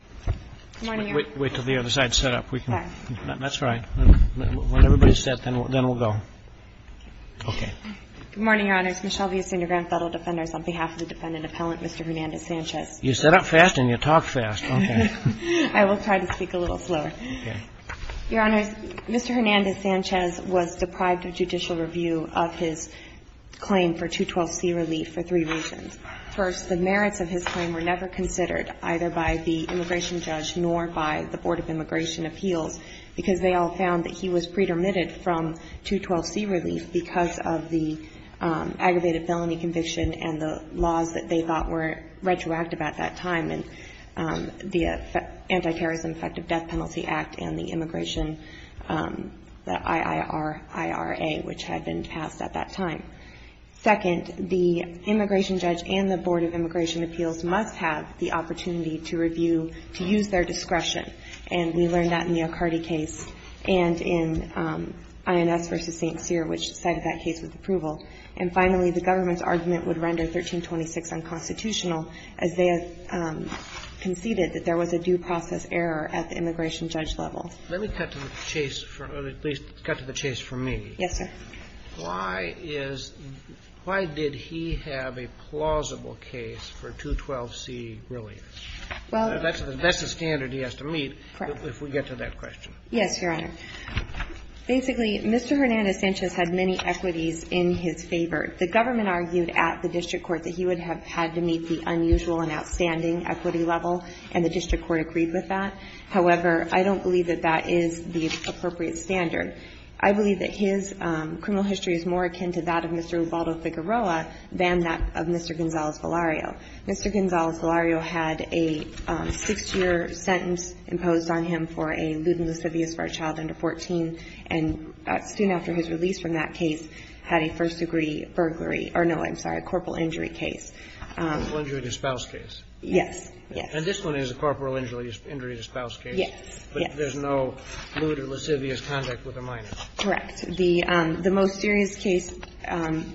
on behalf of the defendant appellant, Mr. Hernandez-Sanchez. You set up fast and you talk fast, okay. I will try to speak a little slower. Your Honors, Mr. Hernandez-Sanchez was deprived of judicial review of his claim for 212C relief for three reasons. First, the merits of his claim were never considered, either by the immigration judge nor by the Board of Immigration Appeals, because they all found that he was pre-dermitted from 212C relief because of the aggravated felony conviction and the laws that they thought were retroactive at that time, and the Anti-Terrorism Effective Death Penalty Act and the immigration, the IIRIRA, which had been passed at that time. Second, the immigration judge and the Board of Immigration Appeals must have the opportunity to review, to use their discretion. And we learned that in the Ocardi case and in INS v. St. Cyr, which cited that case with approval. And finally, the government's argument would render 1326 unconstitutional, as they conceded that there was a due process error at the immigration judge level. Let me cut to the chase, or at least cut to the chase for me. Yes, sir. Why is – why did he have a plausible case for 212C relief? That's the standard he has to meet if we get to that question. Yes, Your Honor. Basically, Mr. Hernandez-Sanchez had many equities in his favor. The government argued at the district court that he would have had to meet the unusual and outstanding equity level, and the district court agreed with that. However, I don't believe that that is the appropriate standard. I believe that his criminal history is more akin to that of Mr. Ubaldo Figueroa than that of Mr. Gonzalez-Valario. Mr. Gonzalez-Valario had a six-year sentence imposed on him for a lewd and lascivious for a child under 14, and soon after his release from that case, had a first-degree burglary – or no, I'm sorry, a corporal injury case. Corporal injury to spouse case. Yes. And this one is a corporal injury to spouse case. Yes. But there's no lewd or lascivious conduct with the minor. Correct. The most serious case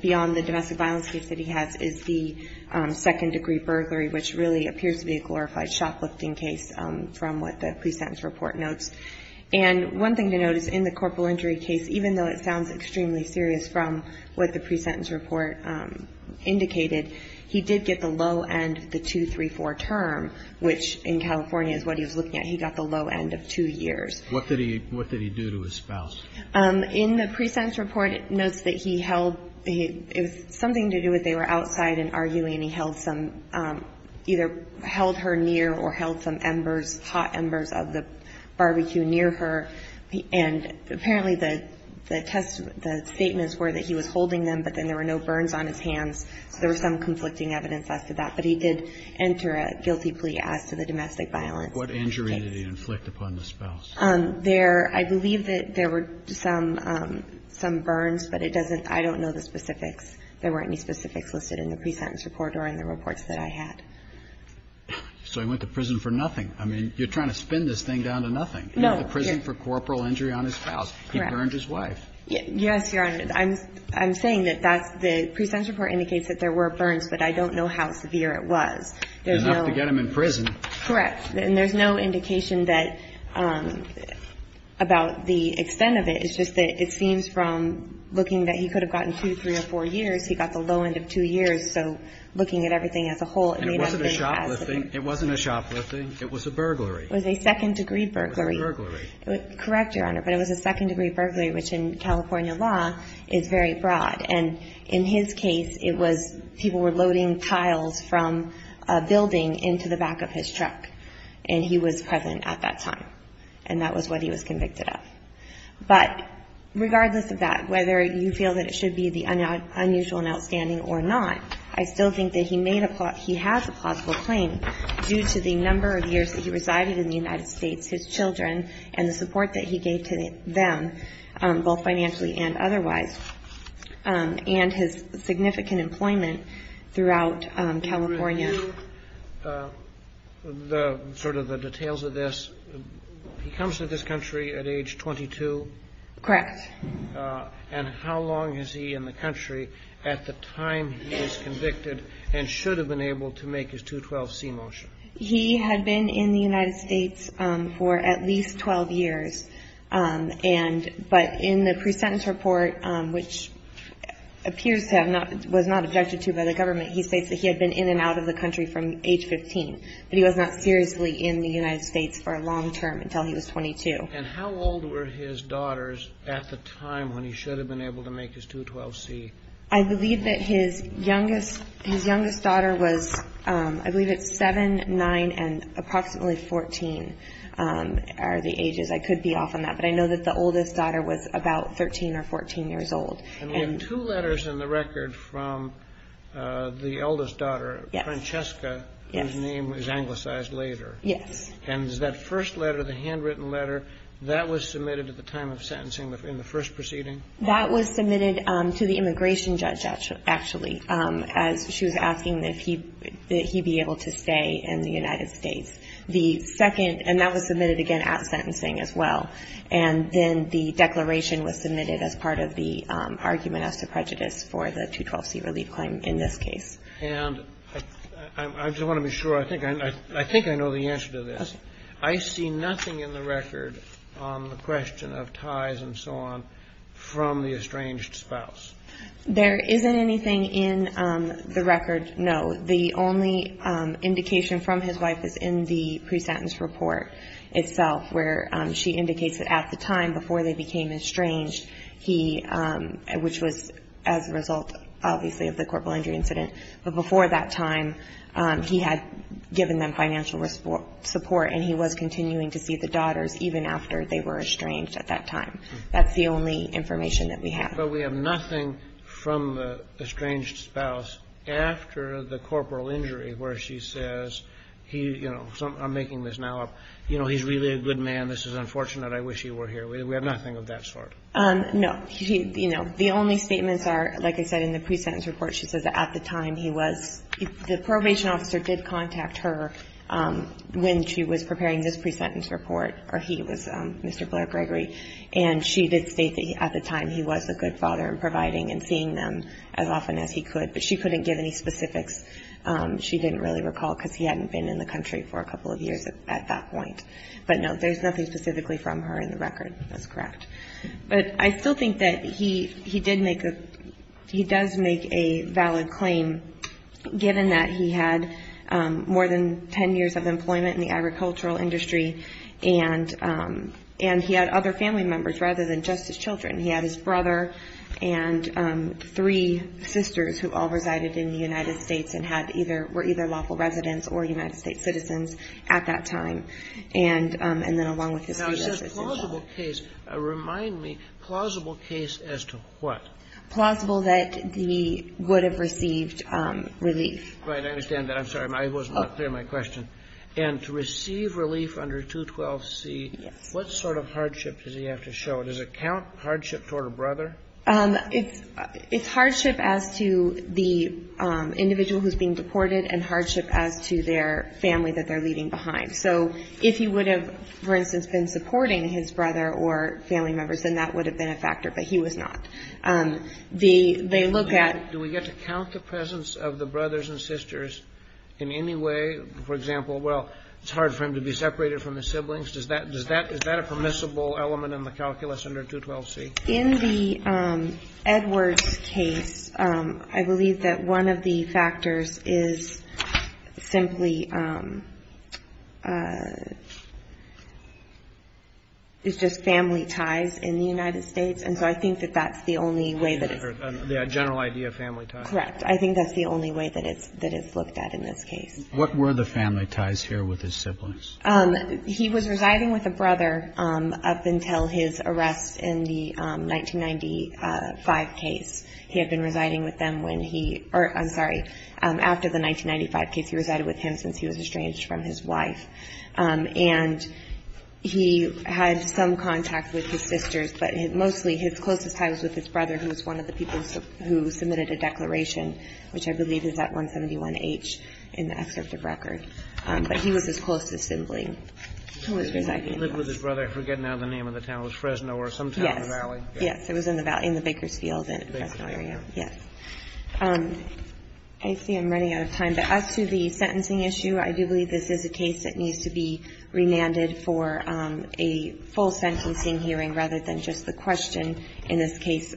beyond the domestic violence case that he has is the second-degree burglary, which really appears to be a glorified shoplifting case from what the pre-sentence report notes. And one thing to note is in the corporal injury case, even though it sounds extremely serious from what the pre-sentence report indicated, he did get the low end of the 234 term, which in California is what he was looking at. He got the low end of two years. What did he do to his spouse? In the pre-sentence report, it notes that he held – it was something to do with they were outside and arguing. He held some – either held her near or held some embers, hot embers of the barbecue near her. And apparently the test – the statements were that he was holding them, but then there were no burns on his hands. So there was some conflicting evidence as to that. But he did enter a guilty plea as to the domestic violence. What injury did he inflict upon the spouse? There – I believe that there were some burns, but it doesn't – I don't know the specifics. There weren't any specifics listed in the pre-sentence report or in the reports that I had. So he went to prison for nothing. I mean, you're trying to spin this thing down to nothing. No. He went to prison for corporal injury on his spouse. Correct. He burned his wife. Yes, Your Honor. I'm saying that that's – the pre-sentence report indicates that there were burns, but I don't know how severe it was. There's no – Enough to get him in prison. Correct. And there's no indication that – about the extent of it. It's just that it seems from looking that he could have gotten two, three, or four years, he got the low end of two years. So looking at everything as a whole, it may not have been as – And it wasn't a shoplifting. It wasn't a shoplifting. It was a burglary. It was a second-degree burglary. It was a burglary. Correct, Your Honor. But it was a second-degree burglary, which in California law is very broad. And in his case, it was – people were loading tiles from a building into the back of his truck, and he was present at that time. And that was what he was convicted of. But regardless of that, whether you feel that it should be the unusual and outstanding or not, I still think that he made a – he has a plausible claim due to the number of years that he resided in the United States, his children, and the support that he gave to them, both financially and otherwise, and his significant employment throughout California. And I'm not going to go into sort of the details of this. He comes to this country at age 22? Correct. And how long is he in the country at the time he is convicted and should have been able to make his 212C motion? He had been in the United States for at least 12 years. And – but in the pre-sentence report, which appears to have not – was not objected to by the government, he states that he had been in and out of the country from age 15. But he was not seriously in the United States for a long term until he was 22. And how old were his daughters at the time when he should have been able to make his 212C? I believe that his youngest daughter was – I believe it's 7, 9, and approximately 14 are the ages. I could be off on that. But I know that the oldest daughter was about 13 or 14 years old. And we have two letters in the record from the eldest daughter, Francesca, whose name is anglicized later. Yes. And is that first letter, the handwritten letter, that was submitted at the time of sentencing in the first proceeding? That was submitted to the immigration judge, actually, as she was asking that he be able to stay in the United States. The second – and that was submitted, again, at sentencing as well. And then the declaration was submitted as part of the argument as to prejudice for the 212C relief claim in this case. And I just want to be sure. I think I know the answer to this. Okay. I see nothing in the record on the question of ties and so on from the estranged spouse. There isn't anything in the record, no. The only indication from his wife is in the presentence report itself, where she indicates that at the time before they became estranged, he – which was as a result, obviously, of the corporal injury incident. But before that time, he had given them financial support, and he was continuing to see the daughters even after they were estranged at that time. That's the only information that we have. But we have nothing from the estranged spouse after the corporal injury where she says, you know, I'm making this now up. You know, he's really a good man. This is unfortunate. I wish he were here. We have nothing of that sort. No. You know, the only statements are, like I said, in the presentence report, she says that at the time he was – the probation officer did contact her when she was preparing this presentence report, or he was, Mr. Blair Gregory, and she did state that at the time, he was a good father in providing and seeing them as often as he could. But she couldn't give any specifics. She didn't really recall, because he hadn't been in the country for a couple of years at that point. But no, there's nothing specifically from her in the record. That's correct. But I still think that he did make a – he does make a valid claim, given that he had more than 10 years of employment in the agricultural industry, and he had other family members rather than just his children. He had his brother and three sisters who all resided in the United States and had either – were either lawful residents or United States citizens at that time. And then along with his three sisters as well. Now, it says plausible case. Remind me, plausible case as to what? Plausible that he would have received relief. Right. I understand that. I'm sorry. I was not clear in my question. And to receive relief under 212C, what sort of hardship does he have to show? Does it count hardship toward a brother? It's hardship as to the individual who's being deported and hardship as to their family that they're leaving behind. So if he would have, for instance, been supporting his brother or family members, then that would have been a factor, but he was not. They look at – Do we get to count the presence of the brothers and sisters in any way? For example, well, it's hard for him to be separated from his siblings. Does that – is that a permissible element in the calculus under 212C? In the Edwards case, I believe that one of the factors is simply – is just family ties in the United States. And so I think that that's the only way that it's – The general idea of family ties. Correct. I think that's the only way that it's looked at in this case. What were the family ties here with his siblings? He was residing with a brother up until his arrest in the 1995 case. He had been residing with them when he – or, I'm sorry, after the 1995 case, he resided with him since he was estranged from his wife. And he had some contact with his sisters, but mostly his closest tie was with his brother, who was one of the people who submitted a declaration, which I believe is at 171H in the excerpt of record. But he was his closest sibling who was residing with him. He lived with his brother. I forget now the name of the town. It was Fresno or some town in the valley. Yes. Yes. It was in the valley, in the Bakersfield and Fresno area. Yes. I see I'm running out of time, but as to the sentencing issue, I do believe this is a case that needs to be remanded for a full sentencing hearing rather than just the question in this case,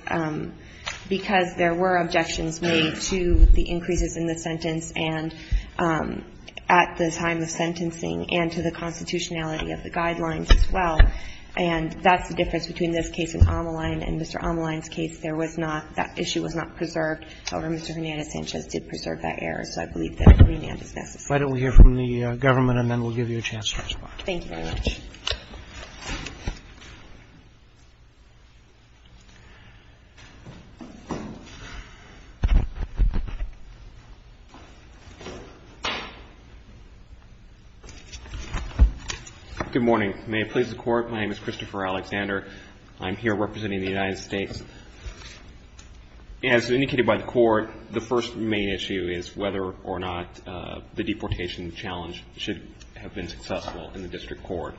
because there were objections made to the increases in the sentence and at the time of sentencing and to the constitutionality of the guidelines as well. And that's the difference between this case and Ameline and Mr. Ameline's case. There was not – that issue was not preserved. However, Mr. Hernandez-Sanchez did preserve that error. So I believe that a remand is necessary. Why don't we hear from the government and then we'll give you a chance to respond. Thank you very much. Good morning. May it please the Court, my name is Christopher Alexander. I'm here representing the United States. As indicated by the Court, the first main issue is whether or not the deportation challenge should have been successful in the district court.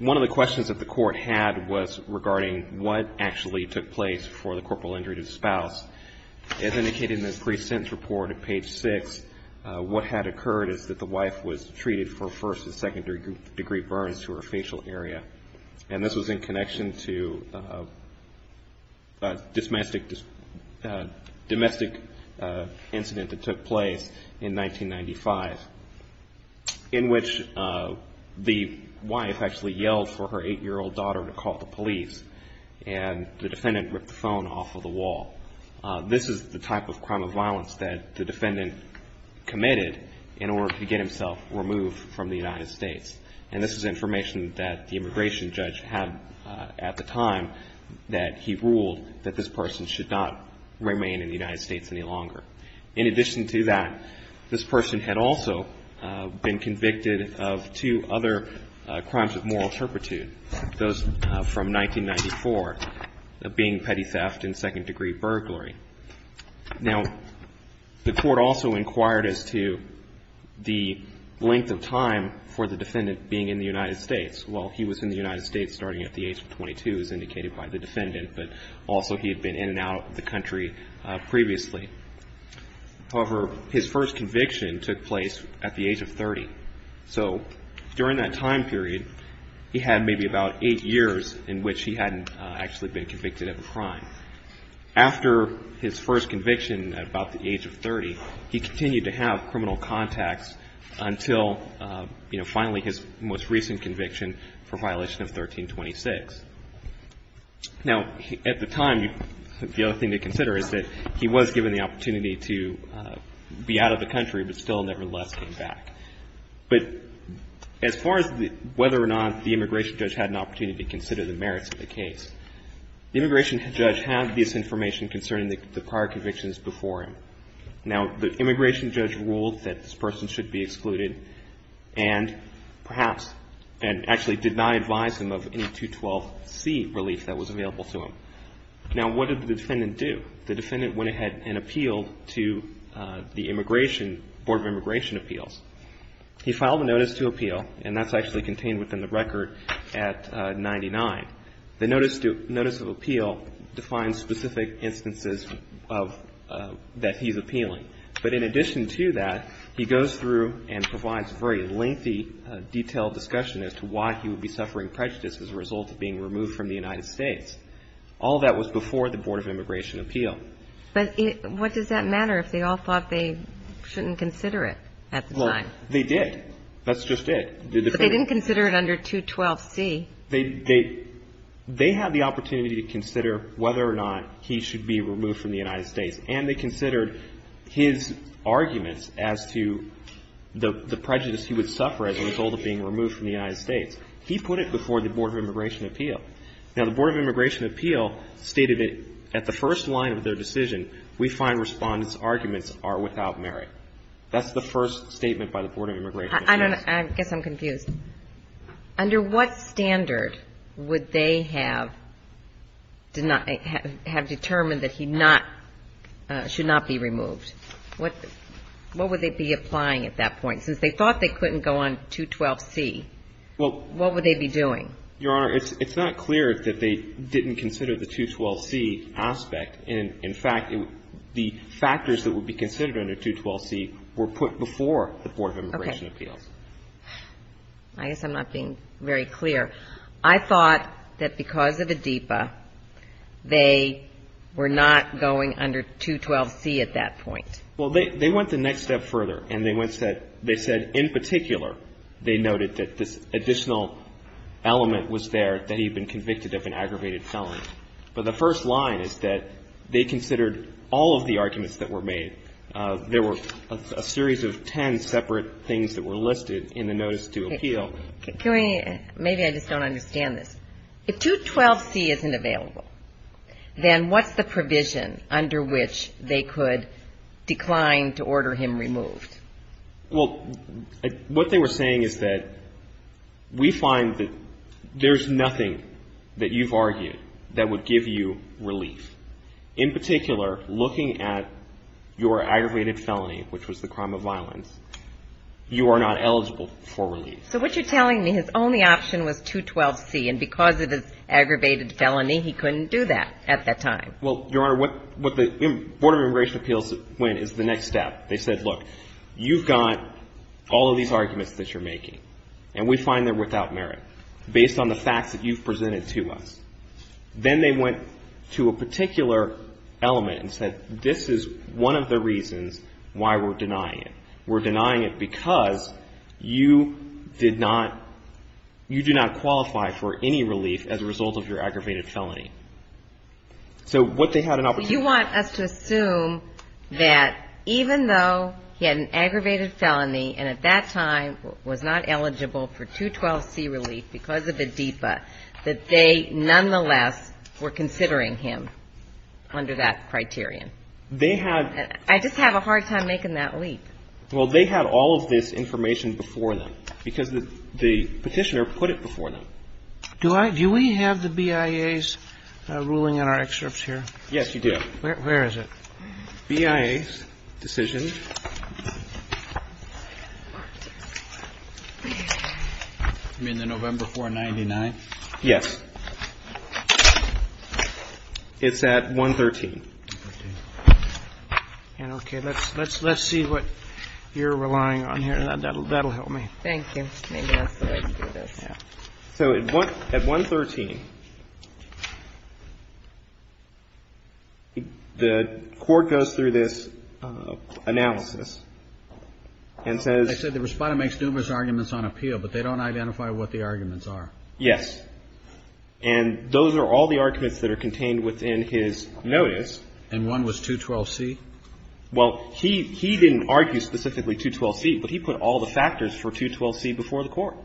One of the questions that the Court had was regarding what actually took place for the corporal injury to the spouse. As indicated in the pre-sentence report at page 6, what had occurred is that the wife was treated for first and second degree burns to her facial area. And this was in connection to a domestic incident that took place in 1995, in which the wife actually yelled for her eight-year-old daughter to call the police. And the defendant ripped the phone off of the wall. This is the type of crime of violence that the defendant committed in order to get himself removed from the United States. And this is information that the immigration judge had at the time that he ruled that In addition to that, this person had also been convicted of two other crimes of moral turpitude, those from 1994, being petty theft and second degree burglary. Now, the Court also inquired as to the length of time for the defendant being in the United States. Well, he was in the United States starting at the age of 22, as indicated by the defendant, but also he had been in and out of the country previously. However, his first conviction took place at the age of 30. So during that time period, he had maybe about eight years in which he hadn't actually been convicted of a crime. After his first conviction at about the age of 30, he continued to have criminal contacts until, you know, finally his most recent conviction for violation of 1326. Now, at the time, the other thing to consider is that he was given the opportunity to be out of the country, but still nevertheless came back. But as far as whether or not the immigration judge had an opportunity to consider the merits of the case, the immigration judge had this information concerning the prior convictions before him. Now, the immigration judge ruled that this person should be excluded and perhaps and actually did not advise him of any 212C relief that was available to him. Now, what did the defendant do? The defendant went ahead and appealed to the immigration, Board of Immigration Appeals. He filed a notice to appeal, and that's actually contained within the record at 99. The notice of appeal defines specific instances that he's appealing. But in addition to that, he goes through and provides very lengthy, detailed discussion as to why he would be suffering prejudice as a result of being removed from the United States. All that was before the Board of Immigration Appeal. But what does that matter if they all thought they shouldn't consider it at the time? Well, they did. That's just it. But they didn't consider it under 212C. They had the opportunity to consider whether or not he should be removed from the United States, and they considered his arguments as to the prejudice he would suffer as a result of being removed from the United States. He put it before the Board of Immigration Appeal. Now, the Board of Immigration Appeal stated that at the first line of their decision, we find respondents' arguments are without merit. That's the first statement by the Board of Immigration Appeals. I don't know. I guess I'm confused. Under what standard would they have determined that he should not be removed? What would they be applying at that point? Since they thought they couldn't go on 212C, what would they be doing? Your Honor, it's not clear that they didn't consider the 212C aspect. In fact, the factors that would be considered under 212C were put before the Board of Immigration Appeals. I guess I'm not being very clear. I thought that because of ADIPA, they were not going under 212C at that point. Well, they went the next step further, and they said in particular, they noted that this additional element was there that he had been convicted of an aggravated felony. But the first line is that they considered all of the arguments that were made. There were a series of ten separate things that were listed in the notice to appeal. Can we ñ maybe I just don't understand this. If 212C isn't available, then what's the provision under which they could decline to order him removed? Well, what they were saying is that we find that there's nothing that you've argued that would give you relief. In particular, looking at your aggravated felony, which was the crime of violence, you are not eligible for relief. So what you're telling me, his only option was 212C, and because of his aggravated felony, he couldn't do that at that time? Well, Your Honor, what the Board of Immigration Appeals went is the next step. They said, look, you've got all of these arguments that you're making, and we find they're without merit based on the facts that you've presented to us. Then they went to a particular element and said, this is one of the reasons why we're denying it. We're denying it because you did not ñ you do not qualify for any relief as a result of your aggravated felony. So what they had in opposition ñ But you want us to assume that even though he had an aggravated felony and at that time was not eligible for 212C relief because of the DEPA, that they nonetheless were considering him under that criterion? They had ñ I just have a hard time making that leap. Well, they had all of this information before them because the Petitioner put it before them. Do I ñ do we have the BIA's ruling in our excerpts here? Yes, you do. Where is it? BIA's decision. You mean the November 499? Yes. It's at 113. Okay. Let's see what you're relying on here. That'll help me. Thank you. Maybe that's the way to do this. Yeah. So at 113, the Court goes through this analysis and says ñ They say the Respondent makes numerous arguments on appeal, but they don't identify what the arguments are. Yes. And those are all the arguments that are contained within his notice. And one was 212C? Well, he didn't argue specifically 212C, but he put all the factors for 212C before the Court.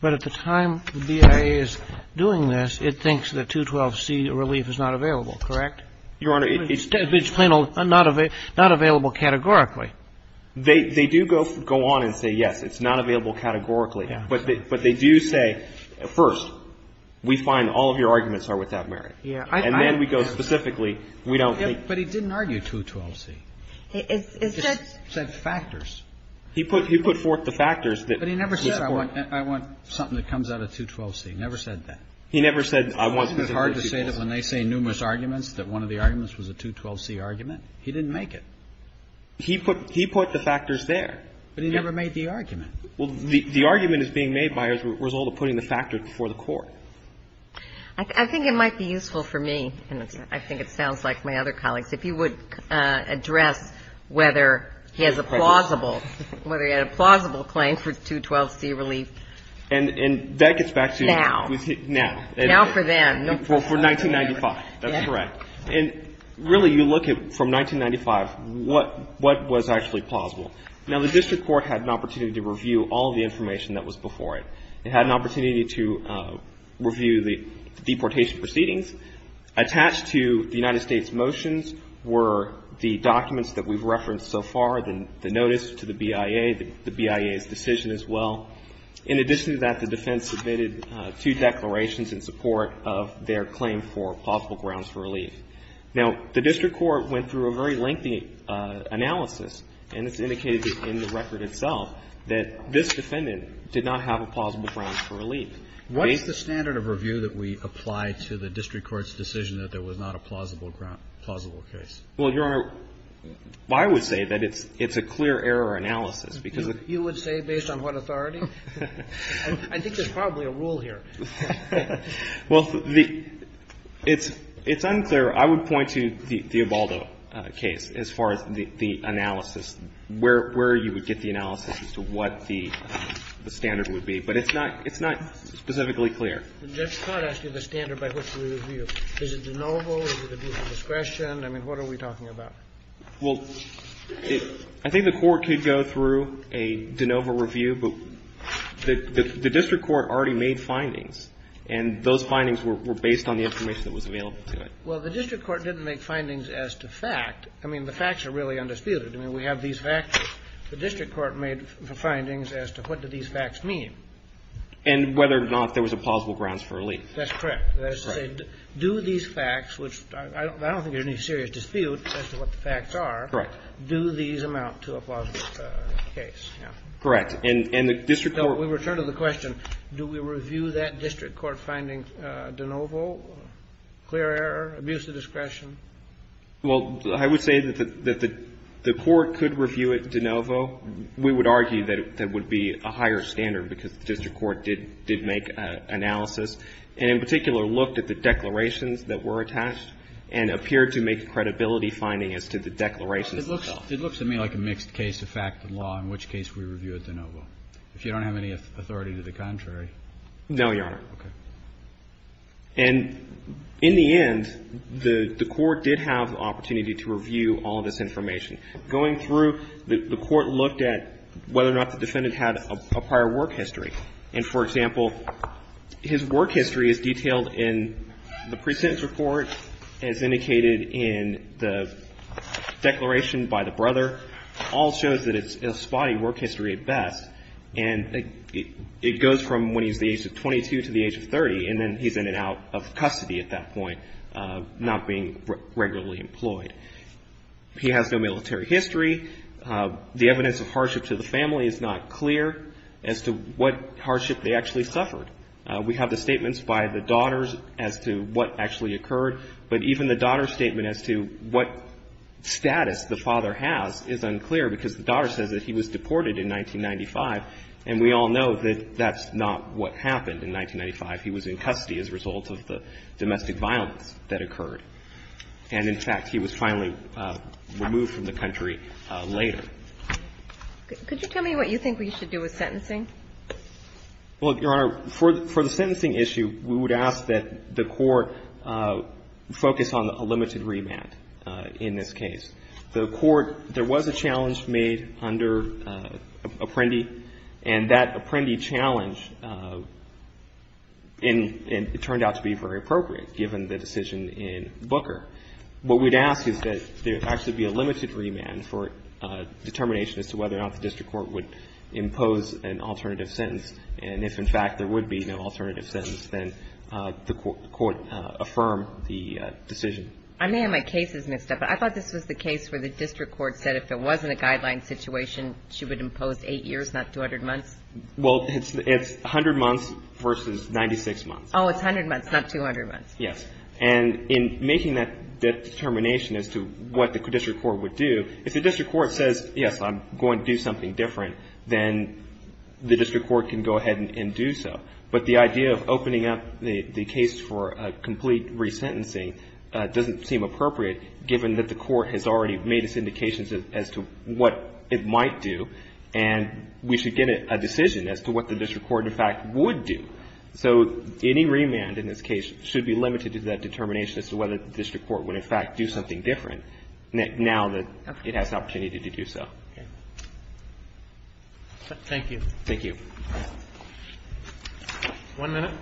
But at the time the BIA is doing this, it thinks that 212C relief is not available, correct? Your Honor, it's ñ It's not available categorically. They do go on and say, yes, it's not available categorically. Yeah. But they do say, first, we find all of your arguments are without merit. Yeah. And then we go specifically, we don't think ñ But he didn't argue 212C. It said ñ It said factors. He put forth the factors that support ñ But he never said, I want something that comes out of 212C. He never said that. He never said, I want ñ Isn't it hard to say that when they say numerous arguments that one of the arguments was a 212C argument? He didn't make it. He put the factors there. But he never made the argument. Well, the argument is being made by a result of putting the factors before the Court. I think it might be useful for me, and I think it sounds like my other colleagues, if you would address whether he has a plausible ñ whether he had a plausible claim for 212C relief. And that gets back to ñ Now. Now. Now for them. For 1995. That's correct. And, really, you look at, from 1995, what was actually plausible. Now, the district court had an opportunity to review all the information that was before it. It had an opportunity to review the deportation proceedings. Attached to the United States motions were the documents that we've referenced so far, the notice to the BIA, the BIA's decision as well. In addition to that, the defense submitted two declarations in support of their claim for plausible grounds for relief. Now, the district court went through a very lengthy analysis, and it's indicated in the record itself that this defendant did not have a plausible ground for relief. What is the standard of review that we apply to the district court's decision that there was not a plausible ground ñ plausible case? Well, Your Honor, I would say that it's ñ it's a clear error analysis because ñ You would say based on what authority? I think there's probably a rule here. Well, the ñ it's unclear. I would point to the Ebaldo case as far as the analysis, where you would get the analysis as to what the standard would be. But it's not ñ it's not specifically clear. But that's not actually the standard by which we review. Is it de novo? Is it a view of discretion? I mean, what are we talking about? Well, I think the court could go through a de novo review. But the district court already made findings, and those findings were based on the information that was available to it. Well, the district court didn't make findings as to fact. I mean, the facts are really undisputed. I mean, we have these facts. The district court made the findings as to what do these facts mean. And whether or not there was a plausible grounds for relief. That's correct. That is to say, do these facts, which I don't think there's any serious dispute as to what the facts are. Correct. Do these amount to a plausible case? Yeah. Correct. And the district court ñ So we return to the question, do we review that district court finding de novo, clear error, abuse of discretion? Well, I would say that the court could review it de novo. We would argue that it would be a higher standard, because the district court did make an analysis. And in particular, looked at the declarations that were attached and appeared to make a credibility finding as to the declarations themselves. It looks to me like a mixed case of fact and law, in which case we review it de novo. If you don't have any authority to the contrary. No, Your Honor. Okay. And in the end, the court did have the opportunity to review all this information. Going through, the court looked at whether or not the defendant had a prior work history. And, for example, his work history is detailed in the precedence report, as indicated in the declaration by the brother. All shows that it's a spotty work history at best. And it goes from when he's the age of 22 to the age of 30. And then he's in and out of custody at that point, not being regularly employed. He has no military history. The evidence of hardship to the family is not clear as to what hardship they actually suffered. We have the statements by the daughters as to what actually occurred. But even the daughter's statement as to what status the father has is unclear, because the daughter says that he was deported in 1995. And we all know that that's not what happened in 1995. He was in custody as a result of the domestic violence that occurred. And, in fact, he was finally removed from the country later. Could you tell me what you think we should do with sentencing? Well, Your Honor, for the sentencing issue, we would ask that the court focus on a limited remand in this case. The court, there was a challenge made under Apprendi. And that Apprendi challenge, it turned out to be very appropriate, given the decision in Booker. What we'd ask is that there actually be a limited remand for determination as to whether or not the district court would impose an alternative sentence. And if, in fact, there would be no alternative sentence, then the court affirm the decision. I may have my cases mixed up. I thought this was the case where the district court said if there wasn't a guideline situation, she would impose 8 years, not 200 months. Well, it's 100 months versus 96 months. Oh, it's 100 months, not 200 months. Yes. And in making that determination as to what the district court would do, if the district court says, yes, I'm going to do something different, then the district court can go ahead and do so. But the idea of opening up the case for a complete resentencing doesn't seem appropriate, given that the court has already made its indications as to what it might do, and we should get a decision as to what the district court, in fact, would do. So any remand in this case should be limited to that determination as to whether the district court would, in fact, do something different now that it has the opportunity to do so. Okay. Thank you. Thank you. One minute.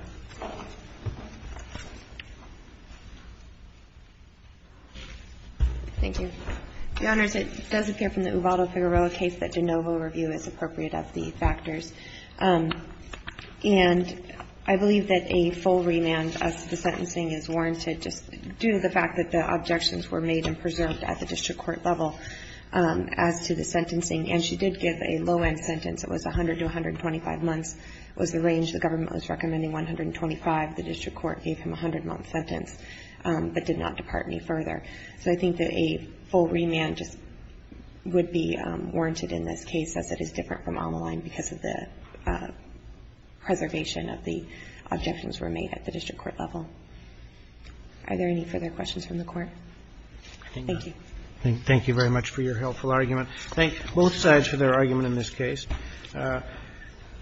Thank you. Your Honors, it does appear from the Ubaldo-Figueroa case that de novo review is appropriate of the factors. And I believe that a full remand as to the sentencing is warranted just due to the fact that the objections were made and preserved at the district court level as to the sentencing. And she did give a low-end sentence. It was 100 to 125 months. It was the range the government was recommending, 125. The district court gave him a 100-month sentence, but did not depart any further. So I think that a full remand just would be warranted in this case, as it is different from Ameline because of the preservation of the objections were made at the district court level. Are there any further questions from the Court? Thank you. Thank you very much for your helpful argument. Thank both sides for their argument in this case.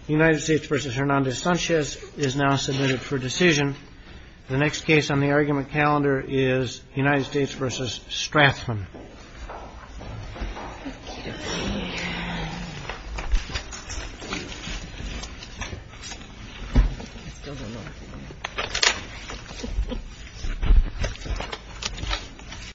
United States versus Hernandez-Sanchez is now submitted for decision. The next case on the argument calendar is United States versus Strathman.